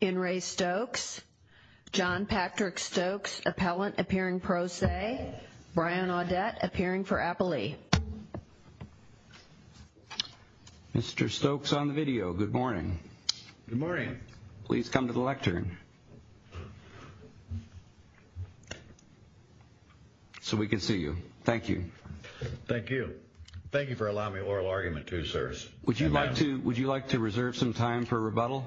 In re STOKES, John Patrick Stokes, appellant, appearing pro se, Brian Audette, appearing for appellee. Mr. Stokes on the video, good morning. Good morning. Please come to the lectern. So we can see you. Thank you. Thank you. Thank you for allowing me oral argument too, sirs. Would you like to would you like to reserve some time for rebuttal?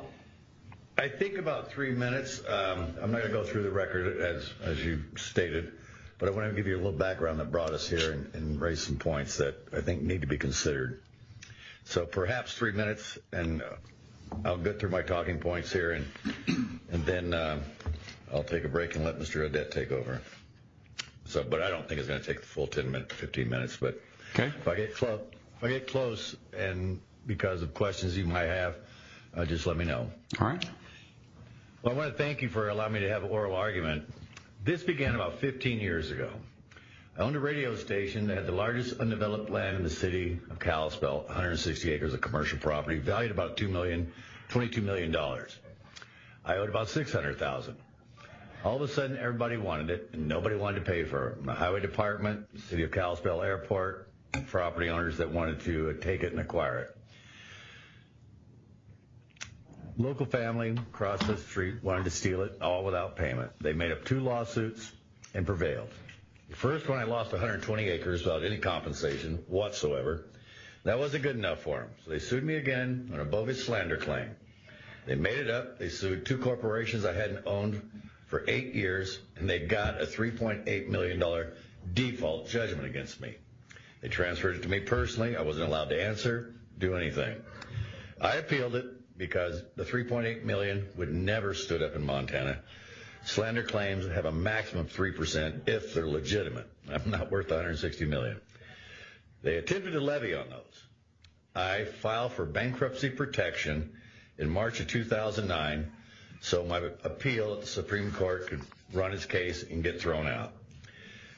I think about three minutes. I'm going to go through the record as you stated, but I want to give you a little background that brought us here and raise some points that I think need to be considered. So perhaps three minutes and I'll get through my talking points here and then I'll take a break and let Mr. So, but I don't think it's going to take the full 10 minutes, 15 minutes, but if I get close and because of questions you might have, just let me know. All right. Well, I want to thank you for allowing me to have an oral argument. This began about 15 years ago. I owned a radio station that had the largest undeveloped land in the city of Kalispell, 160 acres of commercial property, valued about two million, $22 million. I owed about 600,000. All of a sudden, everybody wanted it and nobody wanted to pay for it. My highway department, city of Kalispell Airport and property owners that wanted to take it and acquire it. Local family across the street wanted to steal it all without payment. They made up two lawsuits and prevailed. The first one I lost 120 acres without any compensation whatsoever. That wasn't good enough for them. So they sued me again on a bovis slander claim. They made it up. They sued two corporations I hadn't owned for eight years and they got a $3.8 million default judgment against me. They transferred it to me personally. I wasn't allowed to answer, do anything. I appealed it because the $3.8 million would never stood up in Montana. Slander claims have a maximum of 3% if they're legitimate. I'm not worth 160 million. They attempted to levy on those. I filed for bankruptcy protection in March of 2009 so my appeal at the Supreme Court could run its case and get thrown out.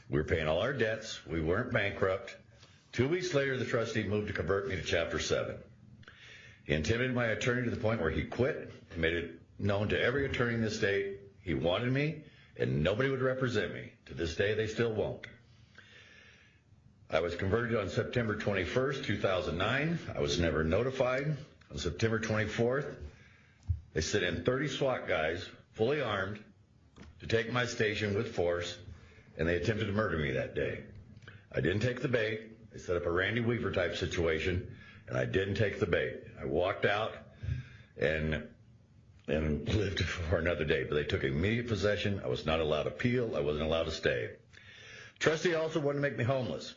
We were paying all our debts. We weren't bankrupt. Two weeks later, the trustee moved to convert me to Chapter 7. He intimidated my attorney to the point where he quit and made it known to every attorney in the state he wanted me and nobody would represent me. To this day, they still won't. I was converted on September 21st, 2009. I was never notified on September 24th. They sent in 30 SWAT guys, fully armed, to take my station with force and they attempted to murder me that day. I didn't take the bait. They set up a Randy Weaver type situation and I didn't take the bait. I walked out and lived for another day, but they took immediate possession. I was not allowed to appeal. I wasn't allowed to stay. Trustee also wanted to make me homeless.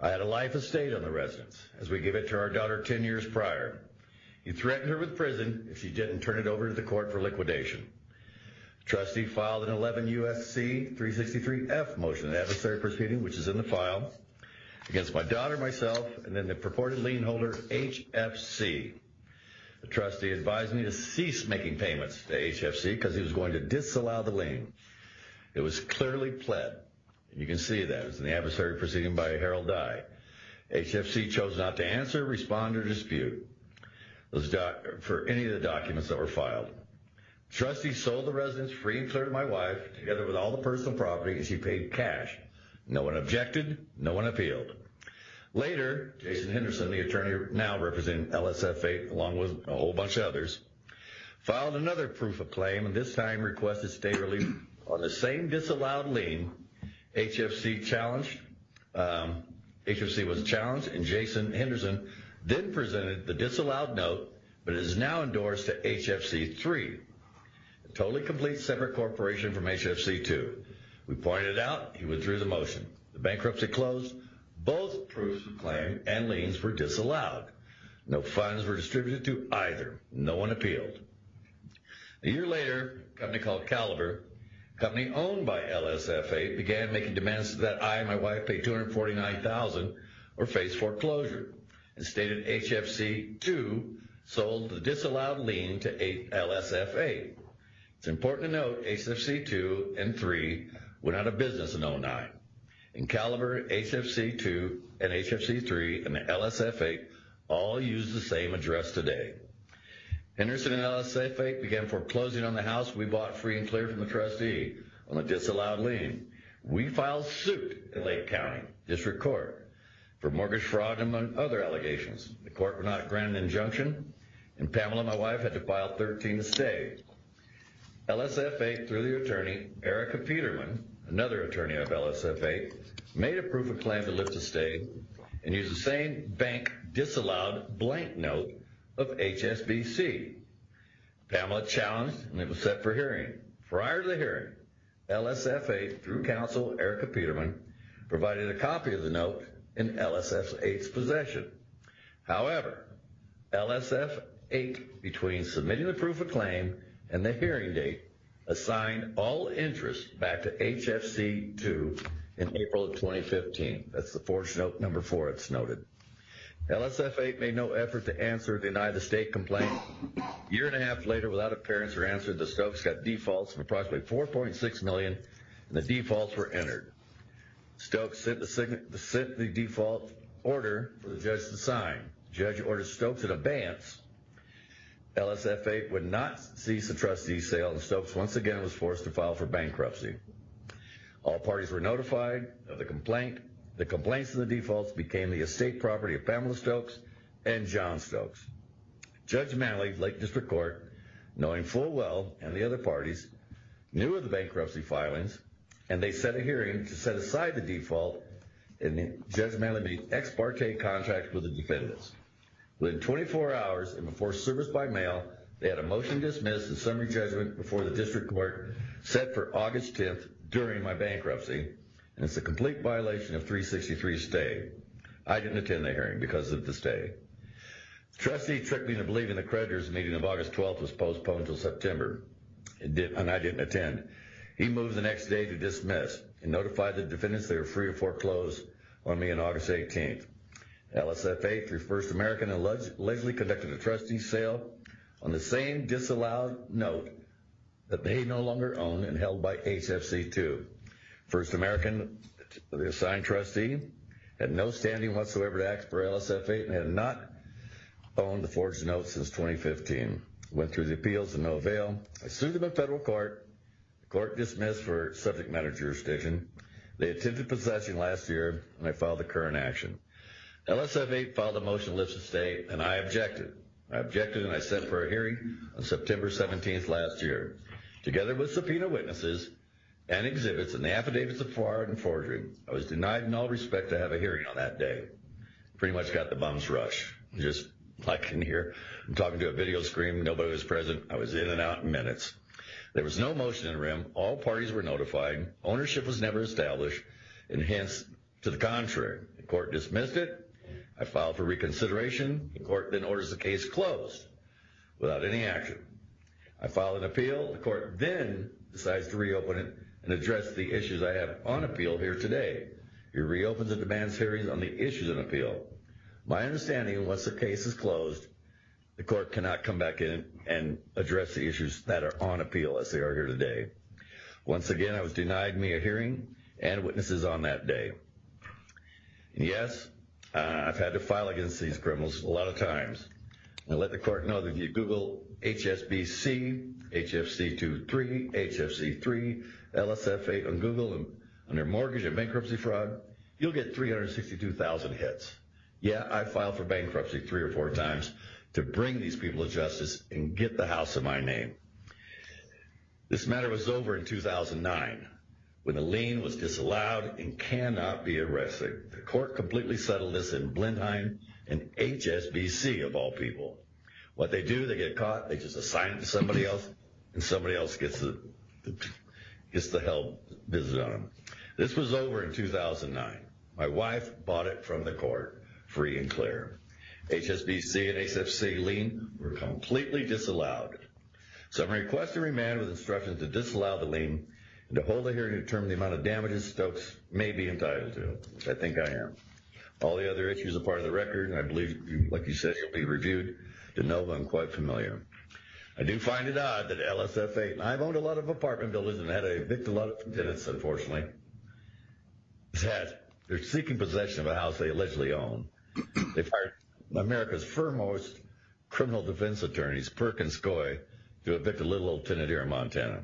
I had a life estate on the residence, as we give it to our daughter 10 years prior. He threatened her with prison if she didn't turn it over to the court for liquidation. The trustee filed an 11 U.S.C. 363-F motion in the adversary proceeding, which is in the file, against my daughter, myself, and then the purported lien holder, HFC. The trustee advised me to cease making payments to HFC because he was going to disallow the lien. It was clearly pled. You can see that. It was in the adversary proceeding by Harold Dye. HFC chose not to answer, respond, or dispute for any of the documents that were filed. Trustee sold the residence free and clear to my wife, together with all the personal property, as he paid cash. No one objected. No one appealed. Later, Jason Henderson, the attorney now representing LSFA, along with a whole bunch of others, filed another proof of claim, and this time requested state relief on the same disallowed lien HFC challenged. HFC was challenged, and Jason Henderson then presented the disallowed note, but it is now endorsed to HFC 3, a totally complete separate corporation from HFC 2. We pointed it out. He withdrew the motion. The bankruptcy closed. Both proofs of claim and liens were disallowed. No funds were distributed to either. No one appealed. A year later, a company called Caliber, a company owned by LSFA, began making demands that I and my wife pay $249,000 or face foreclosure, and stated HFC 2 sold the disallowed lien to LSFA. It's important to note HFC 2 and 3 went out of business in 2009, and Caliber, HFC 2, and HFC 3, and LSFA all use the same address today. Henderson and LSFA began foreclosing on the house we bought free and clear from the trustee on a disallowed lien. We filed suit in Lake County District Court for mortgage fraud, among other allegations. The court would not grant an injunction, and Pamela, my wife, had to file 13 to stay. LSFA, through their attorney, Erica Peterman, another attorney of LSFA, made a proof of claim to lift the stay and used the same bank disallowed blank note of HSBC. Pamela challenged, and it was set for hearing. Prior to the hearing, LSFA, through counsel Erica Peterman, provided a copy of the note in LSFA's possession. However, LSFA, between submitting the proof of claim and the hearing date, assigned all interest back to HFC 2 in April of 2015. That's the fourth note, number four, it's noted. LSFA made no effort to answer or deny the stay complaint. A year and a half later, without appearance or answer, the Stokes got defaults of approximately $4.6 million, and the defaults were entered. Stokes sent the default order for the judge to sign. The judge ordered Stokes an abeyance. LSFA would not cease the trustee sale, and Stokes once again was forced to file for bankruptcy. All parties were notified of the complaint. The complaints and the defaults became the estate property of Pamela Stokes and John Stokes. Judge Manley, Lake District Court, knowing full well, and the other parties, knew of the bankruptcy filings, and they set a hearing to set aside the default, and Judge Manley made ex parte contracts with the defendants. Within 24 hours, and before service by mail, they had a motion dismissed, and summary judgment before the district court set for August 10th, during my bankruptcy, and it's a complete violation of 363 stay. I didn't attend the hearing because of the stay. The trustee tricked me into believing the creditor's meeting of August 12th was postponed until September, and I didn't attend. He moved the next day to dismiss, and notified the defendants they were free to foreclose on me on August 18th. LSFA, through First American, allegedly conducted a trustee sale on the same disallowed note that they no longer own and held by HFC2. First American, the assigned trustee, had no standing whatsoever to ask for LSFA and had not owned the forged note since 2015. Went through the appeals and no avail. I sued them in federal court. The court dismissed for subject matter jurisdiction. They attempted possession last year, and I filed the current action. LSFA filed a motion to lift the stay, and I objected. I objected, and I sent for a hearing on September 17th last year. Together with subpoena witnesses and exhibits and the affidavits of fraud and forgery, I was denied in all respect to have a hearing on that day. Pretty much got the bums rushed. Just like in here, I'm talking to a video screen. Nobody was present. I was in and out in minutes. There was no motion in the room. All parties were notified. Ownership was never established, and hence, to the contrary. The court dismissed it. I filed for reconsideration. The court then orders the case closed without any action. I filed an appeal. The court then decides to reopen it and address the issues I have on appeal here today. It reopens a demand series on the issues of appeal. My understanding, once the case is closed, the court cannot come back in and address the issues that are on appeal as they are here today. Once again, I was denied me a hearing and witnesses on that day. Yes, I've had to file against these criminals a lot of times. I let the court know that if you Google HSBC, HFC23, HFC3, LSF8 on Google, under mortgage and bankruptcy fraud, you'll get 362,000 hits. Yeah, I filed for bankruptcy three or four times to bring these people to justice and get the house in my name. This matter was over in 2009 when the lien was disallowed and cannot be arrested. The court completely settled this in Blenheim and HSBC, of all people. What they do, they get caught, they just assign it to somebody else, and somebody else gets the hell visit on them. This was over in 2009. My wife bought it from the court free and clear. HSBC and HFC lien were completely disallowed. So I request a remand with instructions to disallow the lien and to hold a hearing to determine the amount of damages Stokes may be entitled to. I think I am. All the other issues are part of the record, and I believe, like you said, will be reviewed to no one quite familiar. I do find it odd that LSF8, and I've owned a lot of apartment buildings and had to evict a lot of tenants, unfortunately, has had their seeking possession of a house they allegedly own. They fired America's foremost criminal defense attorneys, Perkins Coy, to evict a little old tenant here in Montana.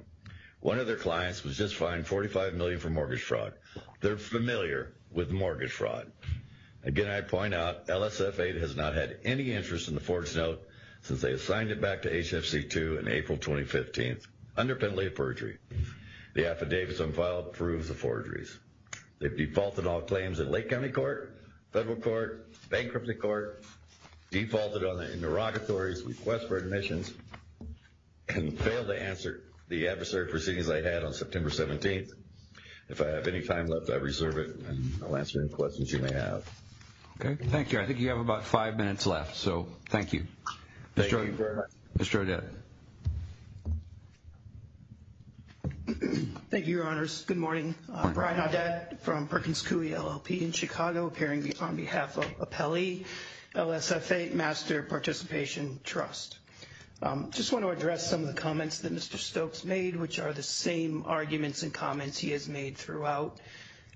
One of their clients was just fined $45 million for mortgage fraud. They're familiar with mortgage fraud. Again, I point out, LSF8 has not had any interest in the fort's note since they assigned it back to HFC2 in April 2015 under penalty of perjury. The affidavits on file prove the forgeries. They've defaulted all claims in Lake County Court, Federal Court, Bankruptcy Court, defaulted on the interrogatory's request for admissions, and failed to answer the adversary proceedings I had on September 17th. If I have any time left, I reserve it, and I'll answer any questions you may have. Okay, thank you. I think you have about five minutes left, so thank you. Mr. Odette. Thank you, Your Honors. Good morning. Brian Odette from Perkins Coy LLP in Chicago, appearing on behalf of Appelli LSF8 Master Participation Trust. I just want to address some of the comments that Mr. Stokes made, which are the same arguments and comments he has made throughout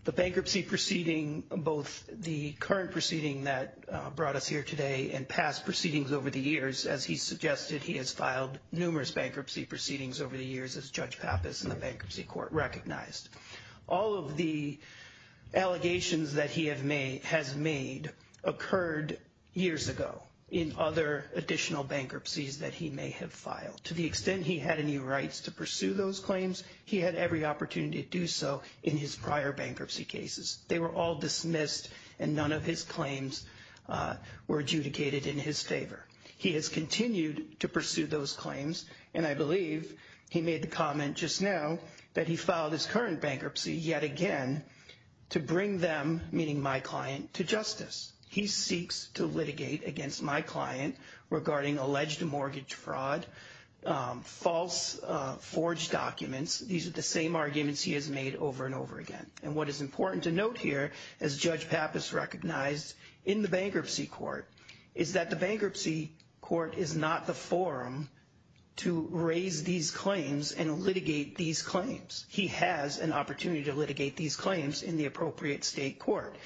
the bankruptcy proceeding, both the current proceeding that brought us here today and past proceedings over the years. As he suggested, he has filed numerous bankruptcy proceedings over the years, as Judge Pappas in the Bankruptcy Court recognized. All of the allegations that he has made occurred years ago in other additional bankruptcies that he may have filed. To the extent he had any rights to pursue those claims, he had every opportunity to do so in his prior bankruptcy cases. They were all dismissed, and none of his claims were adjudicated in his favor. He has continued to pursue those claims, and I believe he made the comment just now that he filed his current bankruptcy yet again to bring them, meaning my client, to justice. He seeks to litigate against my client regarding alleged mortgage fraud, false forged documents. These are the same arguments he has made over and over again. And what is important to note here, as Judge Pappas recognized in the Bankruptcy Court, is that the Bankruptcy Court is not the forum to raise these claims and litigate these claims. He has an opportunity to litigate these claims in the appropriate state court.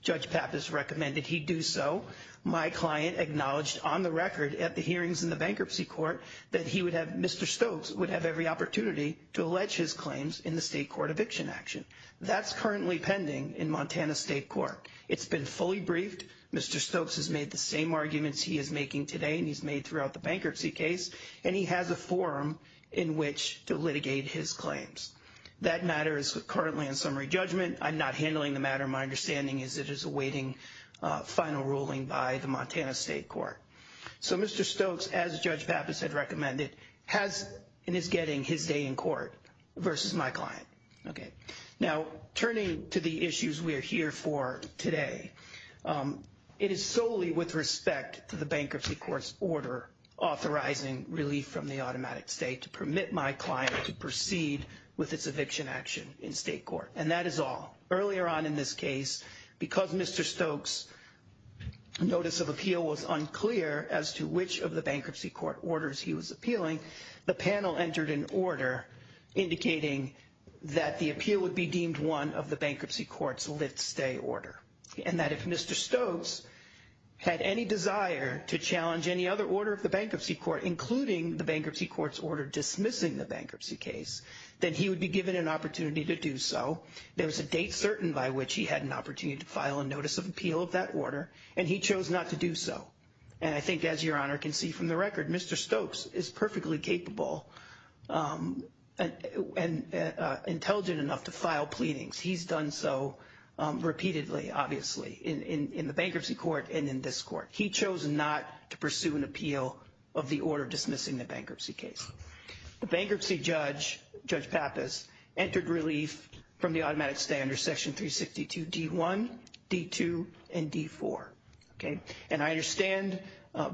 Judge Pappas recommended he do so. My client acknowledged on the record at the hearings in the Bankruptcy Court that he would have, Mr. Stokes, would have every opportunity to allege his claims in the state court eviction action. That's currently pending in Montana State Court. It's been fully briefed. Mr. Stokes has made the same arguments he is making today, and he's made throughout the bankruptcy case, and he has a forum in which to litigate his claims. That matter is currently in summary judgment. I'm not handling the matter. My understanding is it is awaiting final ruling by the Montana State Court. So Mr. Stokes, as Judge Pappas had recommended, has and is getting his day in court versus my client. OK, now turning to the issues we are here for today, it is solely with respect to the Bankruptcy Court's order authorizing relief from the automatic state to permit my client to proceed with its eviction action in state court. And that is all. Earlier on in this case, because Mr. Stokes' notice of appeal was unclear as to which of the Bankruptcy Court orders he was appealing, the panel entered an order indicating that the appeal would be deemed one of the Bankruptcy Court's lit stay order. And that if Mr. Stokes had any desire to challenge any other order of the Bankruptcy Court, including the Bankruptcy Court's order dismissing the bankruptcy case, then he would be given an opportunity to do so. There was a date certain by which he had an opportunity to file a notice of appeal of that order, and he chose not to do so. And I think, as Your Honor can see from the record, Mr. Stokes is perfectly capable and intelligent enough to file pleadings. He's done so repeatedly, obviously, in the Bankruptcy Court and in this court. He chose not to pursue an appeal of the order dismissing the bankruptcy case. The bankruptcy judge, Judge Pappas, entered relief from the automatic stay under Section 362 D1, D2, and D4. And I understand,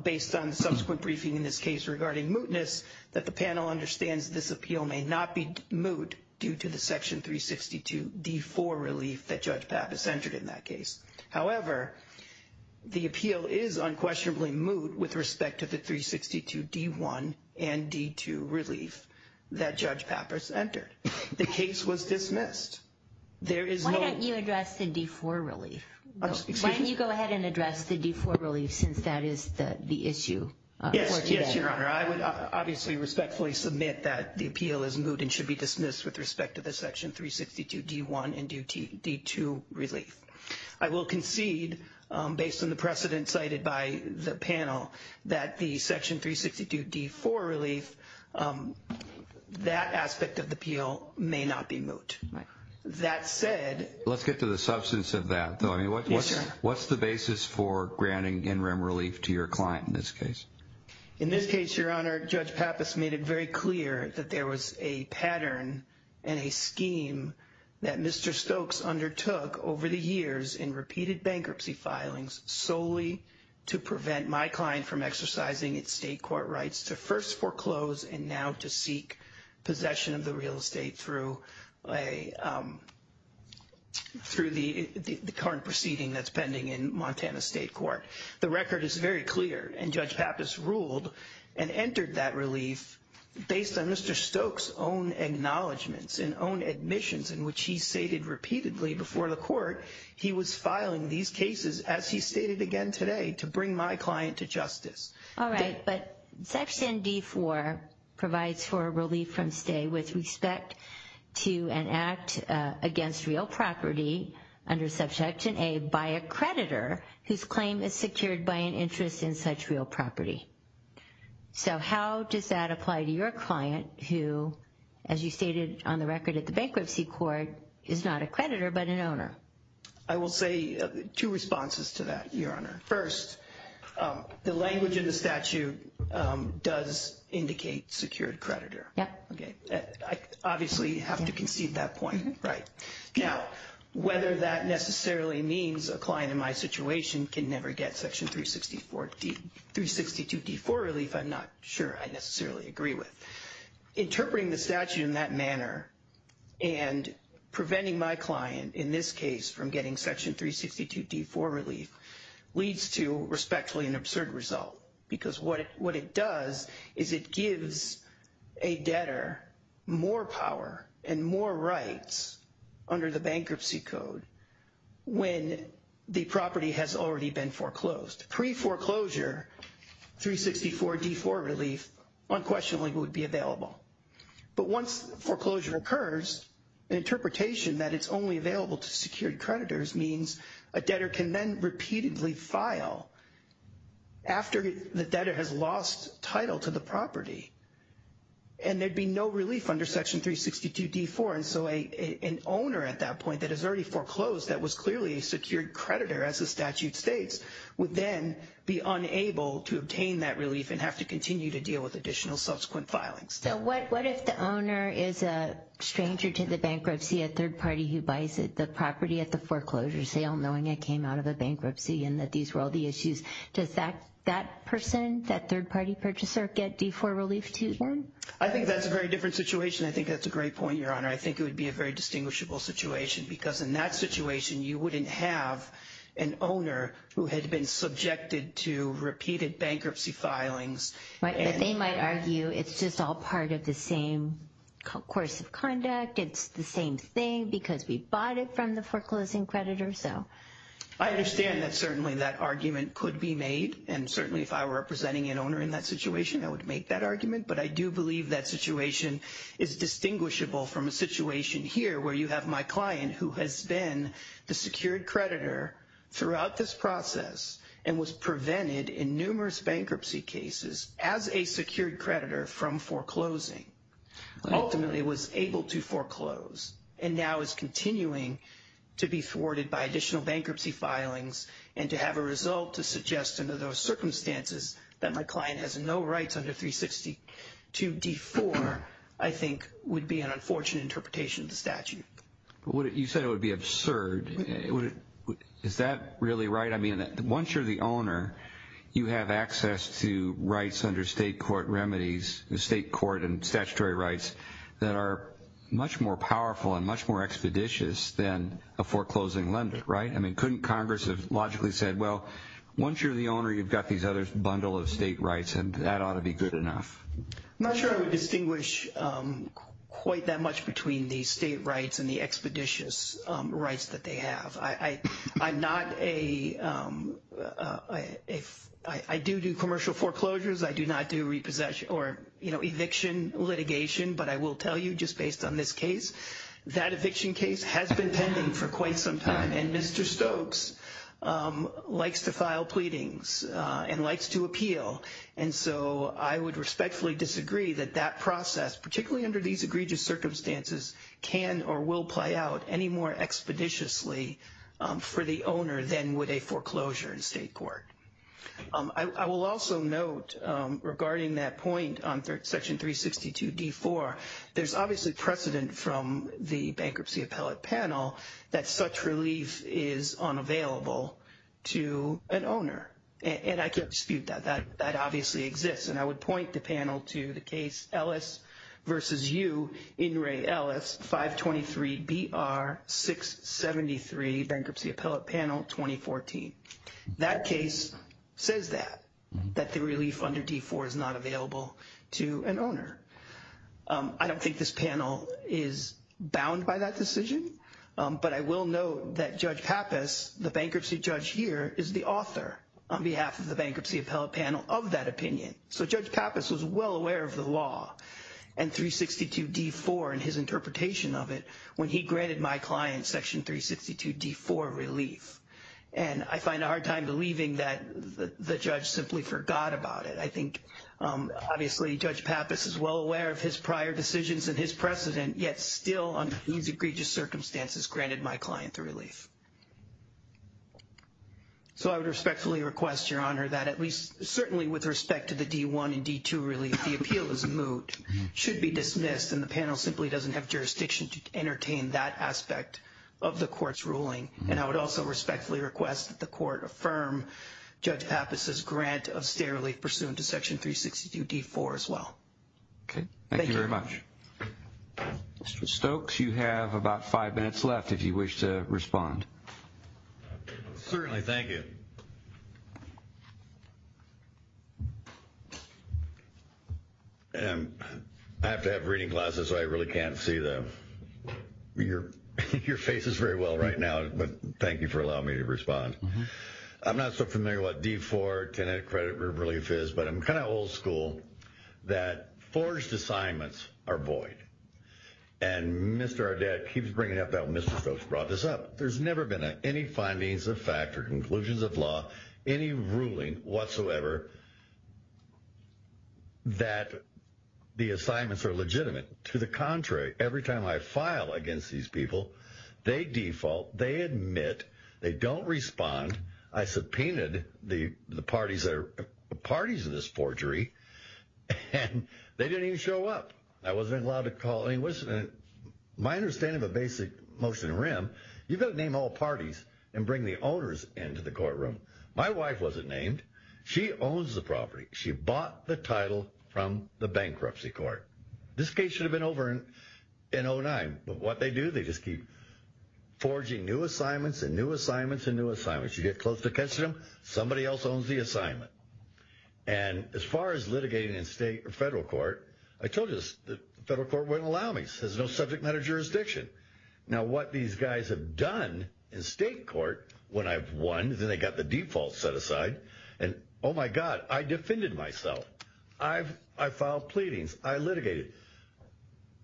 based on the subsequent briefing in this case regarding mootness, that the panel understands this appeal may not be moot due to the Section 362 D4 relief that Judge Pappas entered in that case. However, the appeal is unquestionably moot with respect to the 362 D1 and D2 relief that Judge Pappas entered. The case was dismissed. Why don't you address the D4 relief? Why don't you go ahead and address the D4 relief since that is the issue? Yes, Your Honor. I would obviously respectfully submit that the appeal is moot and should be dismissed with respect to the Section 362 D1 and D2 relief. I will concede, based on the precedent cited by the panel, that the Section 362 D4 relief, that aspect of the appeal may not be moot. That said... Let's get to the substance of that. Yes, Your Honor. What's the basis for granting in-rem relief to your client in this case? In this case, Your Honor, Judge Pappas made it very clear that there was a pattern and a scheme that Mr. Stokes undertook over the years in repeated bankruptcy filings solely to prevent my client from exercising its state court rights to first foreclose and now to seek possession of the real estate through the current proceeding that's pending in Montana State Court. The record is very clear, and Judge Pappas ruled and entered that relief based on Mr. Stokes' own acknowledgements and own admissions in which he stated repeatedly before the court he was filing these cases, as he stated again today, to bring my client to justice. All right, but Section D4 provides for a relief from stay with respect to an act against real property under Subjection A by a creditor whose claim is secured by an interest in such real property. So how does that apply to your client who, as you stated on the record at the bankruptcy court, is not a creditor but an owner? I will say two responses to that, Your Honor. First, the language in the statute does indicate secured creditor. Yeah. Okay. I obviously have to concede that point. Right. Now, whether that necessarily means a client in my situation can never get Section 362 D4 relief, I'm not sure I necessarily agree with. Interpreting the statute in that manner and preventing my client in this case from getting Section 362 D4 relief leads to respectfully an absurd result because what it does is it gives a debtor more power and more rights under the bankruptcy code when the property has already been foreclosed. Pre-foreclosure, 364 D4 relief unquestionably would be available. But once foreclosure occurs, an interpretation that it's only available to secured creditors means a debtor can then repeatedly file after the debtor has lost title to the property and there'd be no relief under Section 362 D4. And so an owner at that point that has already foreclosed that was clearly a secured creditor, as the statute states, would then be unable to obtain that relief and have to continue to deal with additional subsequent filings. So what if the owner is a stranger to the bankruptcy, a third party who buys the property at the foreclosure sale knowing it came out of a bankruptcy and that these were all the issues? Does that person, that third party purchaser, get D4 relief too? I think that's a very different situation. I think that's a great point, Your Honor. I think it would be a very distinguishable situation because in that situation you wouldn't have an owner who had been subjected to repeated bankruptcy filings. But they might argue it's just all part of the same course of conduct. It's the same thing because we bought it from the foreclosing creditor. So I understand that certainly that argument could be made. And certainly if I were representing an owner in that situation, I would make that argument. But I do believe that situation is distinguishable from a situation here where you have my client who has been the secured creditor throughout this process and was prevented in numerous bankruptcy cases as a secured creditor from foreclosing. Ultimately was able to foreclose and now is continuing to be thwarted by additional bankruptcy filings and to have a result to suggest under those circumstances that my client has no rights under 362 D4 I think would be an unfortunate interpretation of the statute. You said it would be absurd. Is that really right? I mean, once you're the owner, you have access to rights under state court remedies, the state court and statutory rights that are much more powerful and much more expeditious than a foreclosing lender, right? I mean, couldn't Congress have logically said, well, once you're the owner, you've got these other bundle of state rights and that ought to be good enough. I'm not sure I would distinguish quite that much between the state rights and the expeditious rights that they have. I'm not a if I do do commercial foreclosures, I do not do repossession or eviction litigation. But I will tell you just based on this case, that eviction case has been pending for quite some time. And Mr. Stokes likes to file pleadings and likes to appeal. And so I would respectfully disagree that that process, particularly under these egregious circumstances, can or will play out any more expeditiously for the owner than would a foreclosure in state court. I will also note regarding that point on Section 362 D4, there's obviously precedent from the bankruptcy appellate panel that such relief is unavailable to an owner. And I can't dispute that. That obviously exists. And I would point the panel to the case Ellis v. U, In re, Ellis, 523 B.R. 673, bankruptcy appellate panel, 2014. That case says that, that the relief under D4 is not available to an owner. I don't think this panel is bound by that decision. But I will note that Judge Pappas, the bankruptcy judge here, is the author on behalf of the bankruptcy appellate panel of that opinion. So Judge Pappas was well aware of the law and 362 D4 and his interpretation of it when he granted my client Section 362 D4 relief. And I find a hard time believing that the judge simply forgot about it. I think obviously Judge Pappas is well aware of his prior decisions and his precedent, yet still under these egregious circumstances granted my client the relief. So I would respectfully request, Your Honor, that at least certainly with respect to the D1 and D2 relief, the appeal is moot, should be dismissed. And the panel simply doesn't have jurisdiction to entertain that aspect of the court's ruling. And I would also respectfully request that the court affirm Judge Pappas' grant of stair relief pursuant to Section 362 D4 as well. Okay. Thank you very much. Mr. Stokes, you have about five minutes left if you wish to respond. Certainly. Thank you. I have to have reading glasses so I really can't see them. Your face is very well right now, but thank you for allowing me to respond. I'm not so familiar with what D4 credit relief is, but I'm kind of old school that forged assignments are void. And Mr. Audet keeps bringing up that when Mr. Stokes brought this up. There's never been any findings of fact or conclusions of law, any ruling whatsoever that the assignments are legitimate. To the contrary, every time I file against these people, they default, they admit, they don't respond. I subpoenaed the parties of this forgery, and they didn't even show up. I wasn't allowed to call. My understanding of a basic motion in REM, you've got to name all parties and bring the owners into the courtroom. My wife wasn't named. She owns the property. She bought the title from the bankruptcy court. This case should have been over in 2009. But what they do, they just keep forging new assignments and new assignments and new assignments. You get close to catching them, somebody else owns the assignment. And as far as litigating in state or federal court, I told you the federal court wouldn't allow me. It says no subject matter jurisdiction. Now what these guys have done in state court when I've won, then they've got the default set aside. And oh my God, I defended myself. I filed pleadings. I litigated.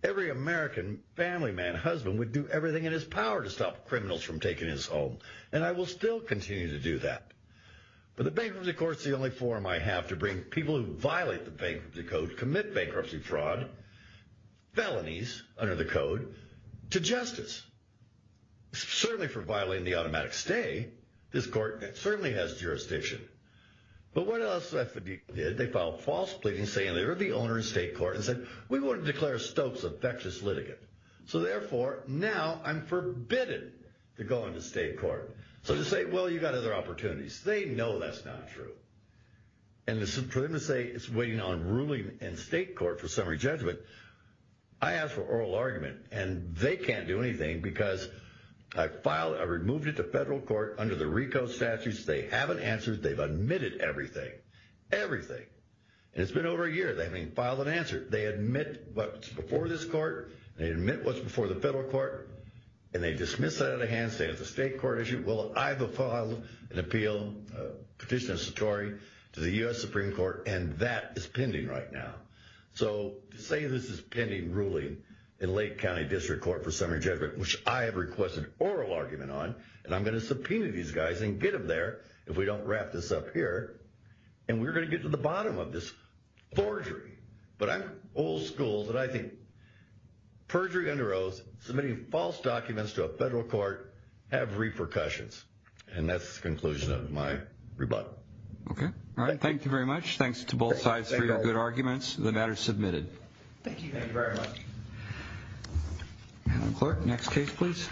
Every American family man, husband, would do everything in his power to stop criminals from taking his home. And I will still continue to do that. But the bankruptcy court is the only forum I have to bring people who violate the bankruptcy code, commit bankruptcy fraud, felonies under the code, to justice. Certainly for violating the automatic stay, this court certainly has jurisdiction. But what else did they do? They filed false pleadings saying they were the owner in state court and said, we want to declare Stokes a factious litigant. So therefore, now I'm forbidden to go into state court. So they say, well, you've got other opportunities. They know that's not true. And for them to say it's waiting on ruling in state court for summary judgment, I asked for oral argument. And they can't do anything because I filed, I removed it to federal court under the RICO statutes. They haven't answered. They've admitted everything. Everything. And it's been over a year. They haven't even filed an answer. They admit what's before this court. They admit what's before the federal court. And they dismiss it out of the hand, say it's a state court issue. Well, I have a file, an appeal, a petition to the U.S. Supreme Court. And that is pending right now. So to say this is pending ruling in Lake County District Court for summary judgment, which I have requested oral argument on, and I'm going to subpoena these guys and get them there if we don't wrap this up here, and we're going to get to the bottom of this forgery. But I'm old school that I think perjury under oath, submitting false documents to a federal court, have repercussions. And that's the conclusion of my rebuttal. Okay. Thank you very much. Thanks to both sides for your good arguments. The matter is submitted. Thank you. Thank you very much. And the court, next case, please.